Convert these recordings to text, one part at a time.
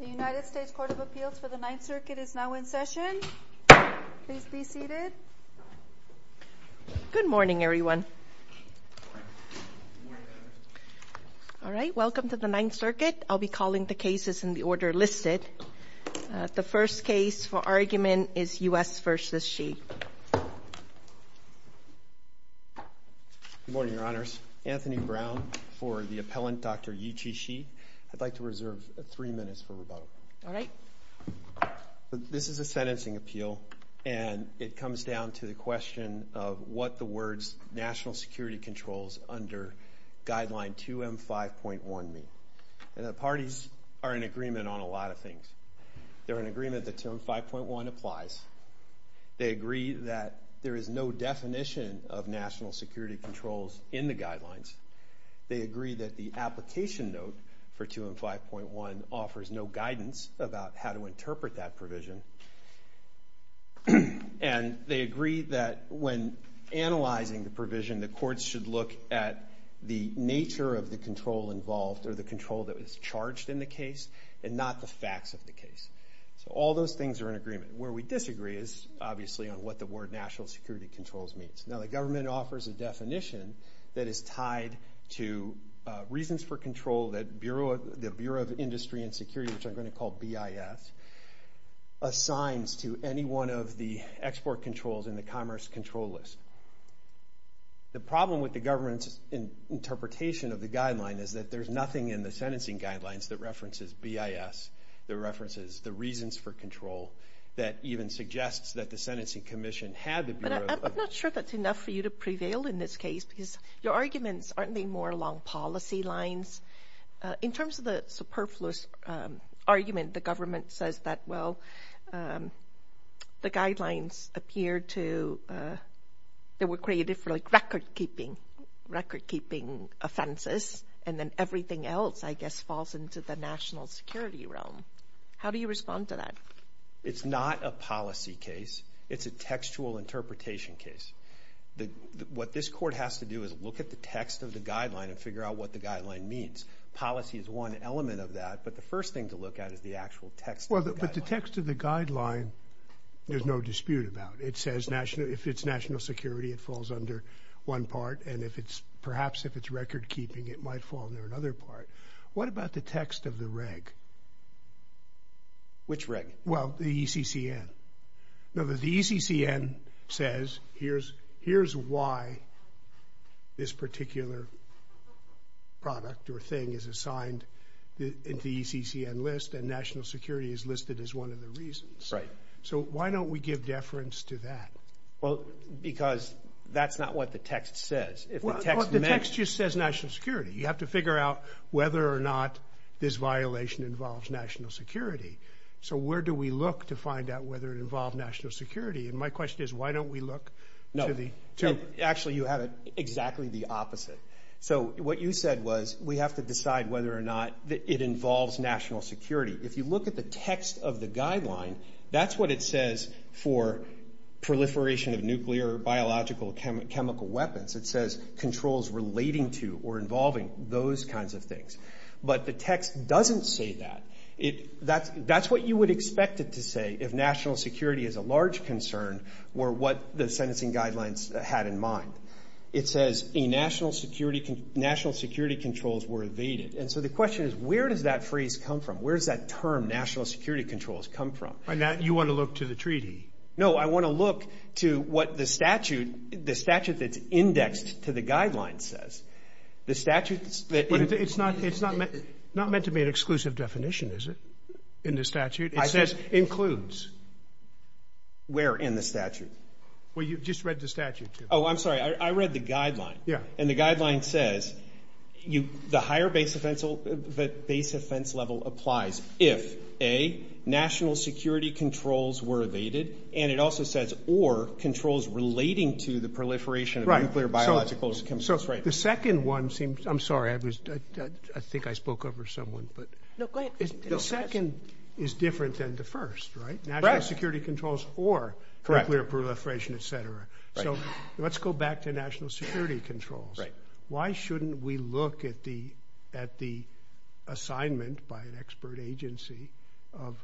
The United States Court of Appeals for the 9th Circuit is now in session. Please be seated. Good morning everyone. Welcome to the 9th Circuit. I'll be calling the cases in the order listed. The first case for argument is U.S. v. Shih. Good morning, Your Honors. Anthony Brown for the appellant, Dr. Yu Chi Shih. I'd like to reserve three minutes for rebuttal. All right. This is a sentencing appeal, and it comes down to the question of what the words national security controls under guideline 2M5.1 mean. And the parties are in agreement on a lot of things. They're in agreement that 2M5.1 applies. They agree that there is no definition of national security controls in the guidelines. They agree that the application note for 2M5.1 offers no guidance about how to interpret that provision. And they agree that when analyzing the provision, the courts should look at the nature of the control involved or the control that is charged in the case and not the facts of the case. So all those things are in agreement. Where we disagree is obviously on what the word national security controls means. Now the government offers a definition that is tied to reasons for control that the Bureau of Industry and Security, which I'm going to call BIS, assigns to any one of the export controls in the commerce control list. The problem with the government's interpretation of the guideline is that there's nothing in the sentencing guidelines that references BIS, that references the reasons for control, that even suggests that the sentencing commission had the Bureau of... But I'm not sure that's enough for you to prevail in this case, because your arguments aren't any more along policy lines. In terms of the superfluous argument, the government says that, well, the guidelines appear to... They were created for record-keeping, record-keeping offenses, and then everything else, I guess, falls into the national security realm. How do you respond to that? It's not a policy case. It's a textual interpretation case. What this court has to do is look at the text of the guideline and figure out what the guideline means. Policy is one element of that, but the first thing to look at is the actual text of the guideline. Well, but the text of the guideline, there's no dispute about. It says if it's national security, it falls under one part, and if it's... Perhaps if it's record-keeping, it might fall under another part. What about the text of the reg? Which reg? Well, the ECCN. Now, the ECCN says, here's why this particular product or thing is assigned in the ECCN list, and national security is listed as one of the reasons. Right. So why don't we give deference to that? Well, because that's not what the text says. If the text meant... Well, the text just says national security. You have to figure out whether or not this violation involves national security. So where do we look to find out whether it involved national security? And my question is, why don't we look to the... No. Actually, you have exactly the opposite. So what you said was, we have to decide whether or not it involves national security. If you look at the text of the guideline, that's what it says for proliferation of nuclear, biological, chemical weapons. It says controls relating to or involving those kinds of things. But the text doesn't say that. That's what you would expect it to say if national security is a large concern, or what the sentencing guidelines had in mind. It says, national security controls were evaded. And so the question is, where does that phrase come from? Where does that term, national security controls, come from? And that you want to look to the treaty. No, I want to look to what the statute, the statute that's indexed to the guidelines says. The statutes that... It's not meant to be an exclusive definition, is it, in the statute? It says includes. Where in the statute? Well, you've just read the statute. Oh, I'm sorry. I read the guideline. Yeah. And the guideline says, the higher base offense level applies if, A, national security controls were evaded. And it also says, or controls relating to the proliferation of nuclear, biological, chemical weapons. Right. So the second one seems... I'm sorry. I think I spoke over someone, but... No, go ahead. The second is different than the first, right? National security controls or nuclear proliferation, et cetera. So let's go back to national security controls. Why shouldn't we look at the assignment by an expert agency of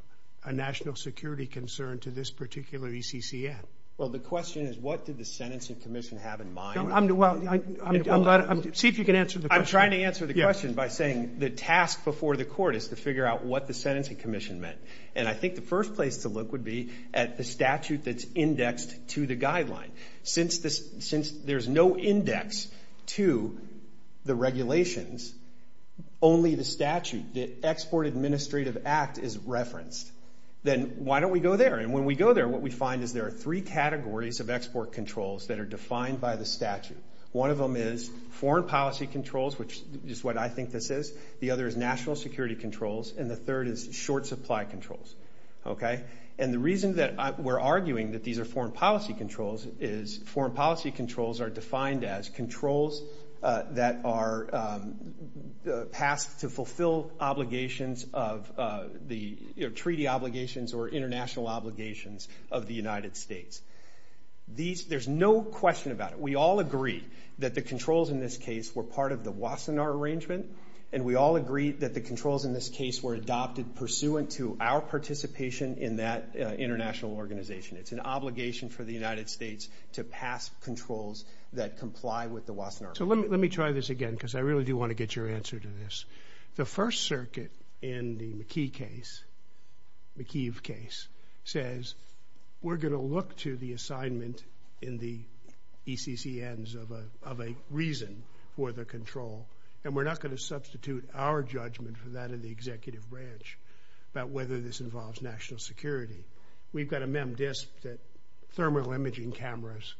a national security concern to this particular ECCN? Well, the question is, what did the sentencing commission have in mind? I'm glad... See if you can answer the question. I'm trying to answer the question by saying the task before the court is to figure out what the sentencing commission meant. And I think the first place to look would be at the statute that's indexed to the guideline. Since there's no index to the regulations, only the statute, the Export Administrative Act is referenced. Then why don't we go there? And when we go there, what we find is there are three categories of export controls that are defined by the statute. One of them is foreign policy controls, which is what I think this is. The other is national security controls. And the third is short supply controls. And the reason that we're arguing that these are foreign policy controls is foreign policy controls are defined as controls that are passed to fulfill obligations of the treaty obligations or international obligations of the United States. There's no question about it. We all agree that the controls in this case were part of the Wassenaar Arrangement, and we all agree that the controls in this case were adopted pursuant to our participation in that international organization. It's an obligation for the United States to pass controls that comply with the Wassenaar. So let me try this again because I really do want to get your answer to this. The First Circuit in the McKee case, McKee case, says we're going to look to the assignment in the ECCNs of a reason for the control, and we're not going to substitute our judgment for that of the executive branch about whether this involves national security. We've got a memdisc that thermal imaging cameras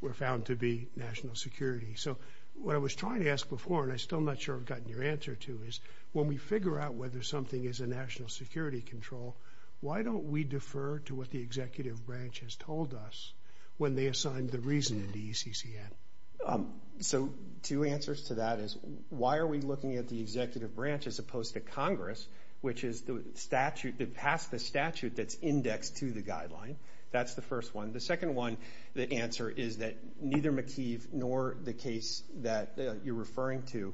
were found to be national security. So what I was trying to ask before, and I'm still not sure I've gotten your answer to, is when we figure out whether something is a national security control, why don't we defer to what the executive branch has told us when they assigned the reason in the ECCN? So two answers to that is, why are we looking at the executive branch as opposed to Congress, which is the statute that passed the statute that's indexed to the guideline? That's the first one. The second one, the answer is that neither McKee nor the case that you're referring to,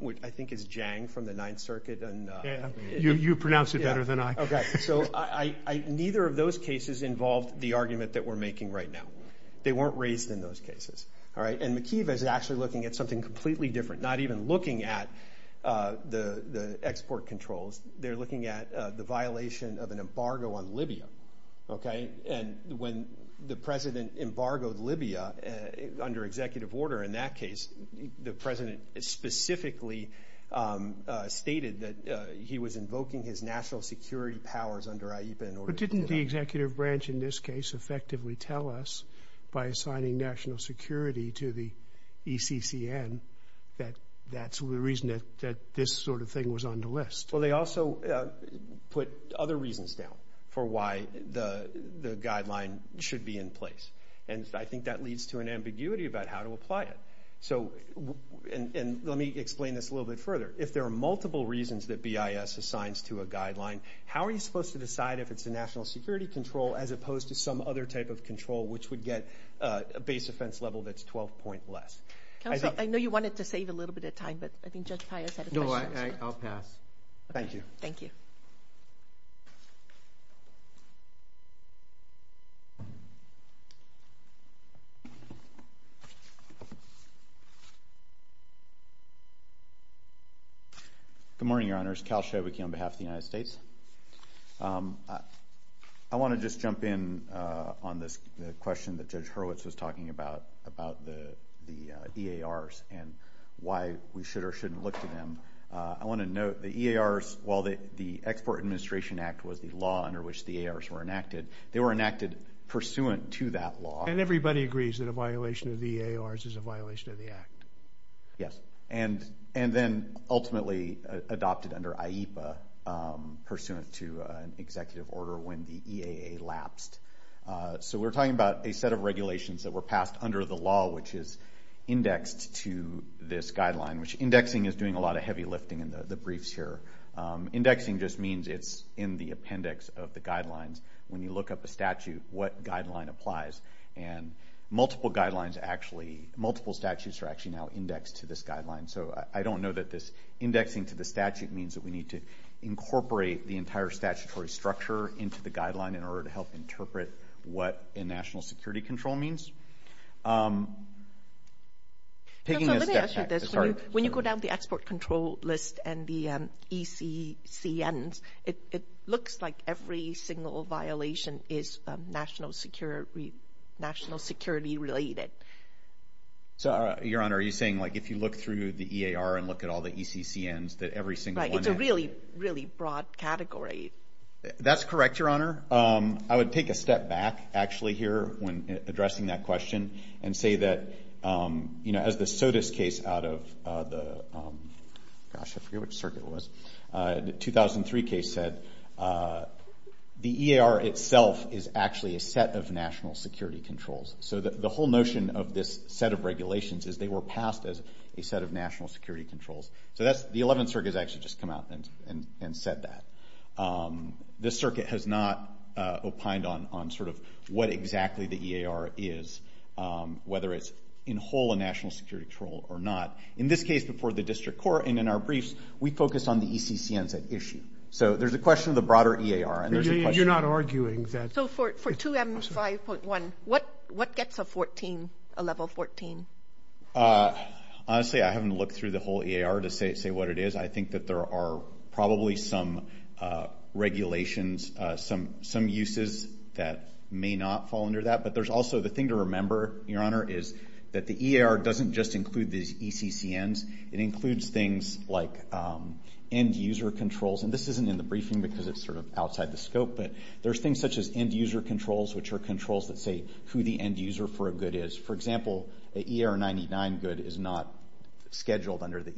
which I think is Jiang from the Ninth Circuit. You pronounce it better than I. Okay. So neither of those cases involved the argument that we're making right now. They weren't raised in those cases. All right. And McKee is actually looking at something different, not even looking at the export controls. They're looking at the violation of an embargo on Libya. Okay. And when the president embargoed Libya under executive order, in that case, the president specifically stated that he was invoking his national security powers under IEPA in order to- But didn't the executive branch in this case effectively tell us by assigning national security to the ECCN that that's the reason that this sort of thing was on the list? Well, they also put other reasons down for why the guideline should be in place. And I think that leads to an ambiguity about how to apply it. And let me explain this a little bit further. If there are multiple reasons that BIS assigns to a guideline, how are you supposed to decide if it's a national security control as opposed to some other type control which would get a base offense level that's 12 point less? Counselor, I know you wanted to save a little bit of time, but I think Judge Pius had a question. No, I'll pass. Thank you. Thank you. Good morning, Your Honors. Cal Schovicky on behalf of the United States. I want to just jump in on the question that Judge Hurwitz was talking about, about the EARs and why we should or shouldn't look to them. I want to note the EARs, while the Export Administration Act was the law under which the EARs were enacted, they were enacted pursuant to that law. And everybody agrees that a violation of the EARs is a violation of the Act. Yes. And then ultimately adopted under IEPA pursuant to an executive order when the EAA lapsed. So we're talking about a set of regulations that were passed under the law which is indexed to this guideline, which indexing is doing a lot of heavy lifting in the briefs here. Indexing just means it's in the appendix of the guidelines. When you look up a statute, what guideline applies? And multiple guidelines actually, multiple statutes are actually now indexed to this guideline. So I don't know that this indexing to the statute means that we need to incorporate the entire statutory structure into the guideline in order to help interpret what a national security control means. When you go down the export control list and the ECCNs, it looks like every single violation is national security related. So, Your Honor, are you saying like if you look through the EAR and look at all the ECCNs that every single one... It's a really, really broad category. That's correct, Your Honor. I would take a step back actually here when addressing that question and say that as the SOTUS case out of the 2003 case said, the EAR itself is actually a set of national security controls. So the whole notion of this set of regulations is they were passed as a set of national security controls. So the 11th Circuit has actually just come out and said that. This circuit has not opined on what exactly the EAR is, whether it's in whole a national security control or not. In this case, before the district court and in our briefs, we focused on the ECCNs at issue. So there's a question of the broader EAR. You're not arguing that... So for 2M5.1, what gets a level 14? Honestly, I haven't looked through the whole EAR to say what it is. I think that there are probably some regulations, some uses that may not fall under that. But there's also the thing to remember, Your Honor, is that the EAR doesn't just include these ECCNs. It includes things like end user controls. And this isn't in the briefing because it's sort of outside the scope, but there's things such as end user controls, which are controls that say who the end user for a EAR99 good is not scheduled under the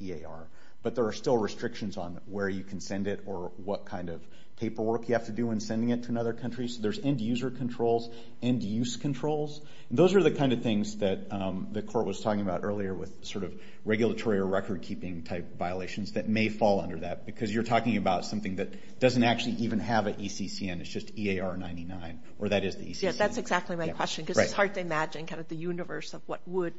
EAR. But there are still restrictions on where you can send it or what kind of paperwork you have to do in sending it to another country. So there's end user controls, end use controls. Those are the kind of things that the court was talking about earlier with sort of regulatory or record keeping type violations that may fall under that because you're talking about something that doesn't actually even have an ECCN. It's just EAR99, or that is the ECCN. That's exactly my question because it's hard to imagine kind of the universe of what would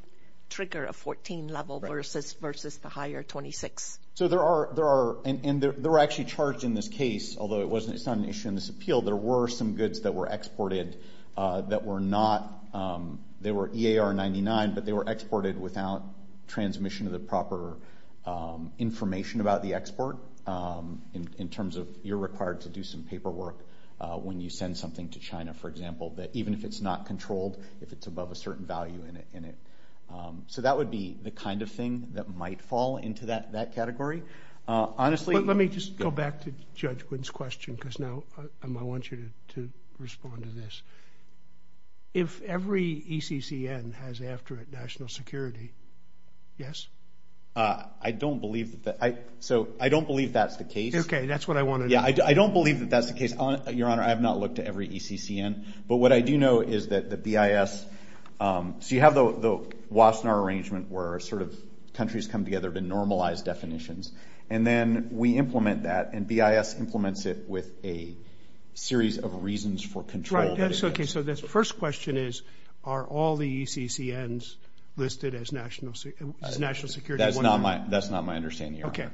trigger a 14 level versus the higher 26. So there are, and they're actually charged in this case, although it's not an issue in this appeal, there were some goods that were exported that were not, they were EAR99, but they were exported without transmission of the proper information about the export in terms of you're required to do some paperwork when you send something to China, for example, that even if it's not controlled, if it's above a certain value in it. So that would be the kind of thing that might fall into that category. Honestly... But let me just go back to Judge Wynn's question because now I want you to respond to this. If every ECCN has after it national security, yes? I don't believe that. So I don't believe that's the case. Okay, that's what I wanted. I don't believe that that's the case. Your Honor, I have not looked at every ECCN, but what I do know is that the BIS, so you have the Wassenaar arrangement where sort of countries come together to normalize definitions. And then we implement that and BIS implements it with a series of reasons for control. Right, that's okay. So this first question is, are all the ECCNs listed as national security? That's not my understanding, Your Honor.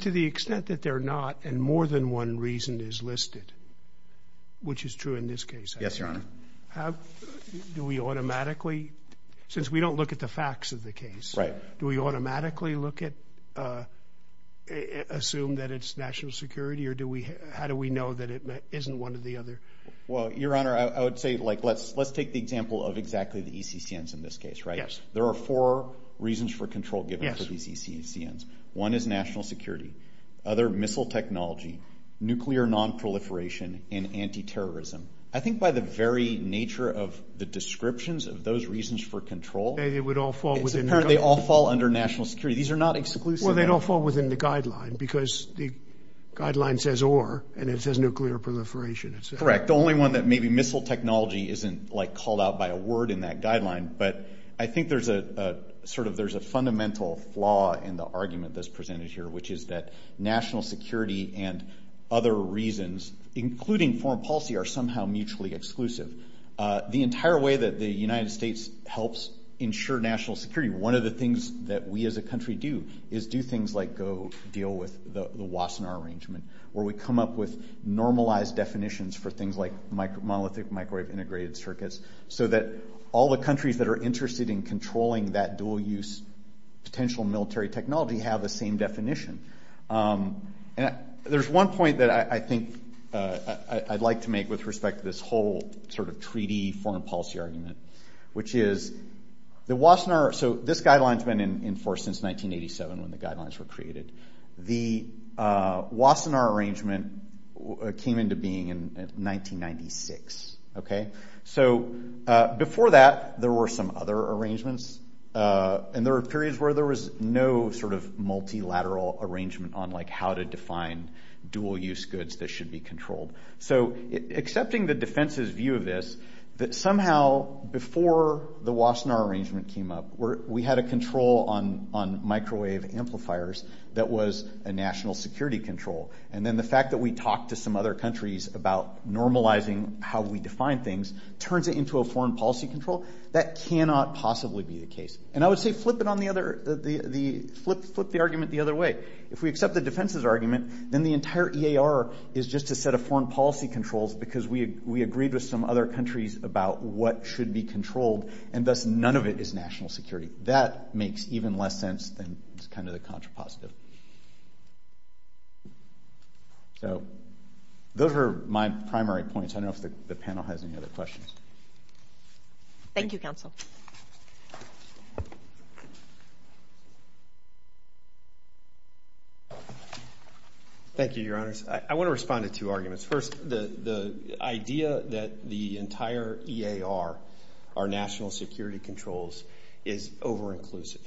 To the extent that they're not, and more than one reason is listed, which is true in this case. Yes, Your Honor. Since we don't look at the facts of the case, do we automatically assume that it's national security or how do we know that it isn't one or the other? Well, Your Honor, I would say let's take the example of exactly the ECCNs in this case, there are four reasons for control given for these ECCNs. One is national security, other missile technology, nuclear non-proliferation, and anti-terrorism. I think by the very nature of the descriptions of those reasons for control, they all fall under national security. These are not exclusive. Well, they don't fall within the guideline because the guideline says or, and it says nuclear proliferation. Correct. The only one that maybe missile technology isn't like called out by a word in that guideline, but I think there's a fundamental flaw in the argument that's presented here, which is that national security and other reasons, including foreign policy, are somehow mutually exclusive. The entire way that the United States helps ensure national security, one of the things that we as a country do is do things like go deal with the Wassenaar Arrangement, where we come up with normalized definitions for things like monolithic microwave integrated circuits so that all the countries that are interested in controlling that dual use potential military technology have the same definition. There's one point that I think I'd like to make with respect to this whole sort of treaty foreign policy argument, which is the Wassenaar, so this guideline's been enforced since 1987 when the guidelines were created. The Wassenaar Arrangement came into being in 1996. So before that, there were some other arrangements, and there were periods where there was no sort of multilateral arrangement on how to define dual use goods that should be controlled. So accepting the defense's view of this, that somehow before the Wassenaar Arrangement came up, we had a control on microwave amplifiers that was a national security control, and then the fact that we talked to some other countries about normalizing how we define things turns it into a foreign policy control, that cannot possibly be the case. And I would say flip the argument the other way. If we accept the defense's argument, then the entire EAR is just a set of foreign policy controls because we agreed with some other countries about what should be controlled, and thus none of it is national security. That makes even less sense than it's kind of the contrapositive. So those are my primary points. I don't know if the panel has any other questions. Thank you, Counsel. Thank you, Your Honors. I want to respond to two arguments. First, the idea that the entire EAR, our national security controls, is over-inclusive.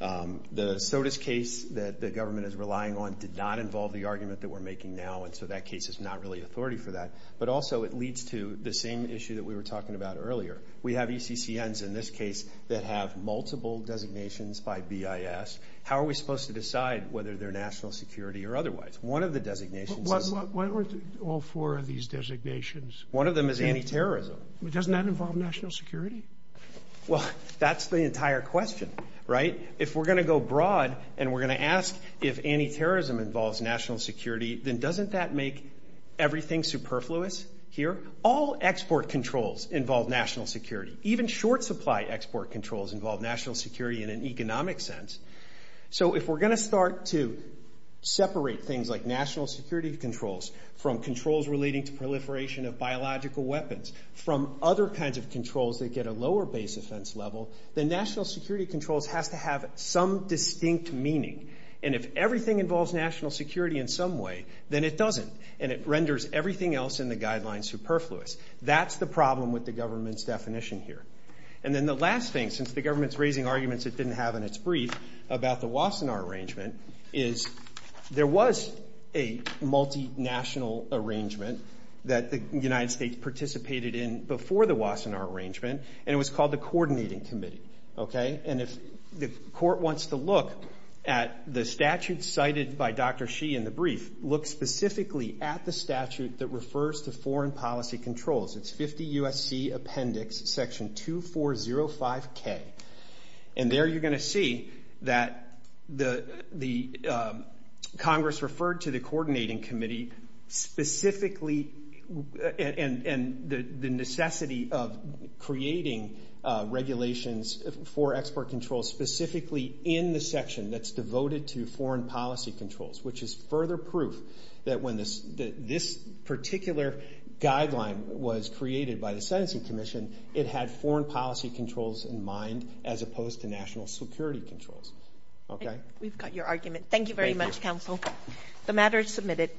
The SOTUS case that the government is relying on did not involve the argument that we're making now, and so that case is not really authority for that. But also, it leads to the same issue that we were talking about earlier. We have ECCNs in this case that have multiple designations by BIS. How are we supposed to decide whether they're national security or otherwise? One of the designations is... What are all four of these designations? One of them is anti-terrorism. Doesn't that involve national security? Well, that's the entire question, right? If we're going to go broad and we're going to ask if anti-terrorism involves national security, then doesn't that make everything superfluous here? All export controls involve national security. Even short-supply export controls involve national security in an economic sense. So if we're going to start to separate things like national security controls from controls relating to proliferation of biological weapons, from other kinds of controls that get a lower base offense level, then national security controls has to have some distinct meaning. And if everything involves national security in some way, then it doesn't, and it renders everything else in the guidelines superfluous. That's the problem with the government's definition here. And then the last thing, since the government's raising arguments it didn't have in its brief about the Wassenaar is there was a multinational arrangement that the United States participated in before the Wassenaar arrangement, and it was called the Coordinating Committee. And if the court wants to look at the statute cited by Dr. Xi in the brief, look specifically at the statute that refers to foreign policy controls. It's 50 U.S.C. Appendix Section 2405K. And there you're going to that the Congress referred to the Coordinating Committee specifically, and the necessity of creating regulations for export control specifically in the section that's devoted to foreign policy controls, which is further proof that when this particular guideline was created by the Sentencing Commission, it had foreign policy controls in mind as opposed to national security controls. Okay? We've got your argument. Thank you very much, counsel. The matter is submitted.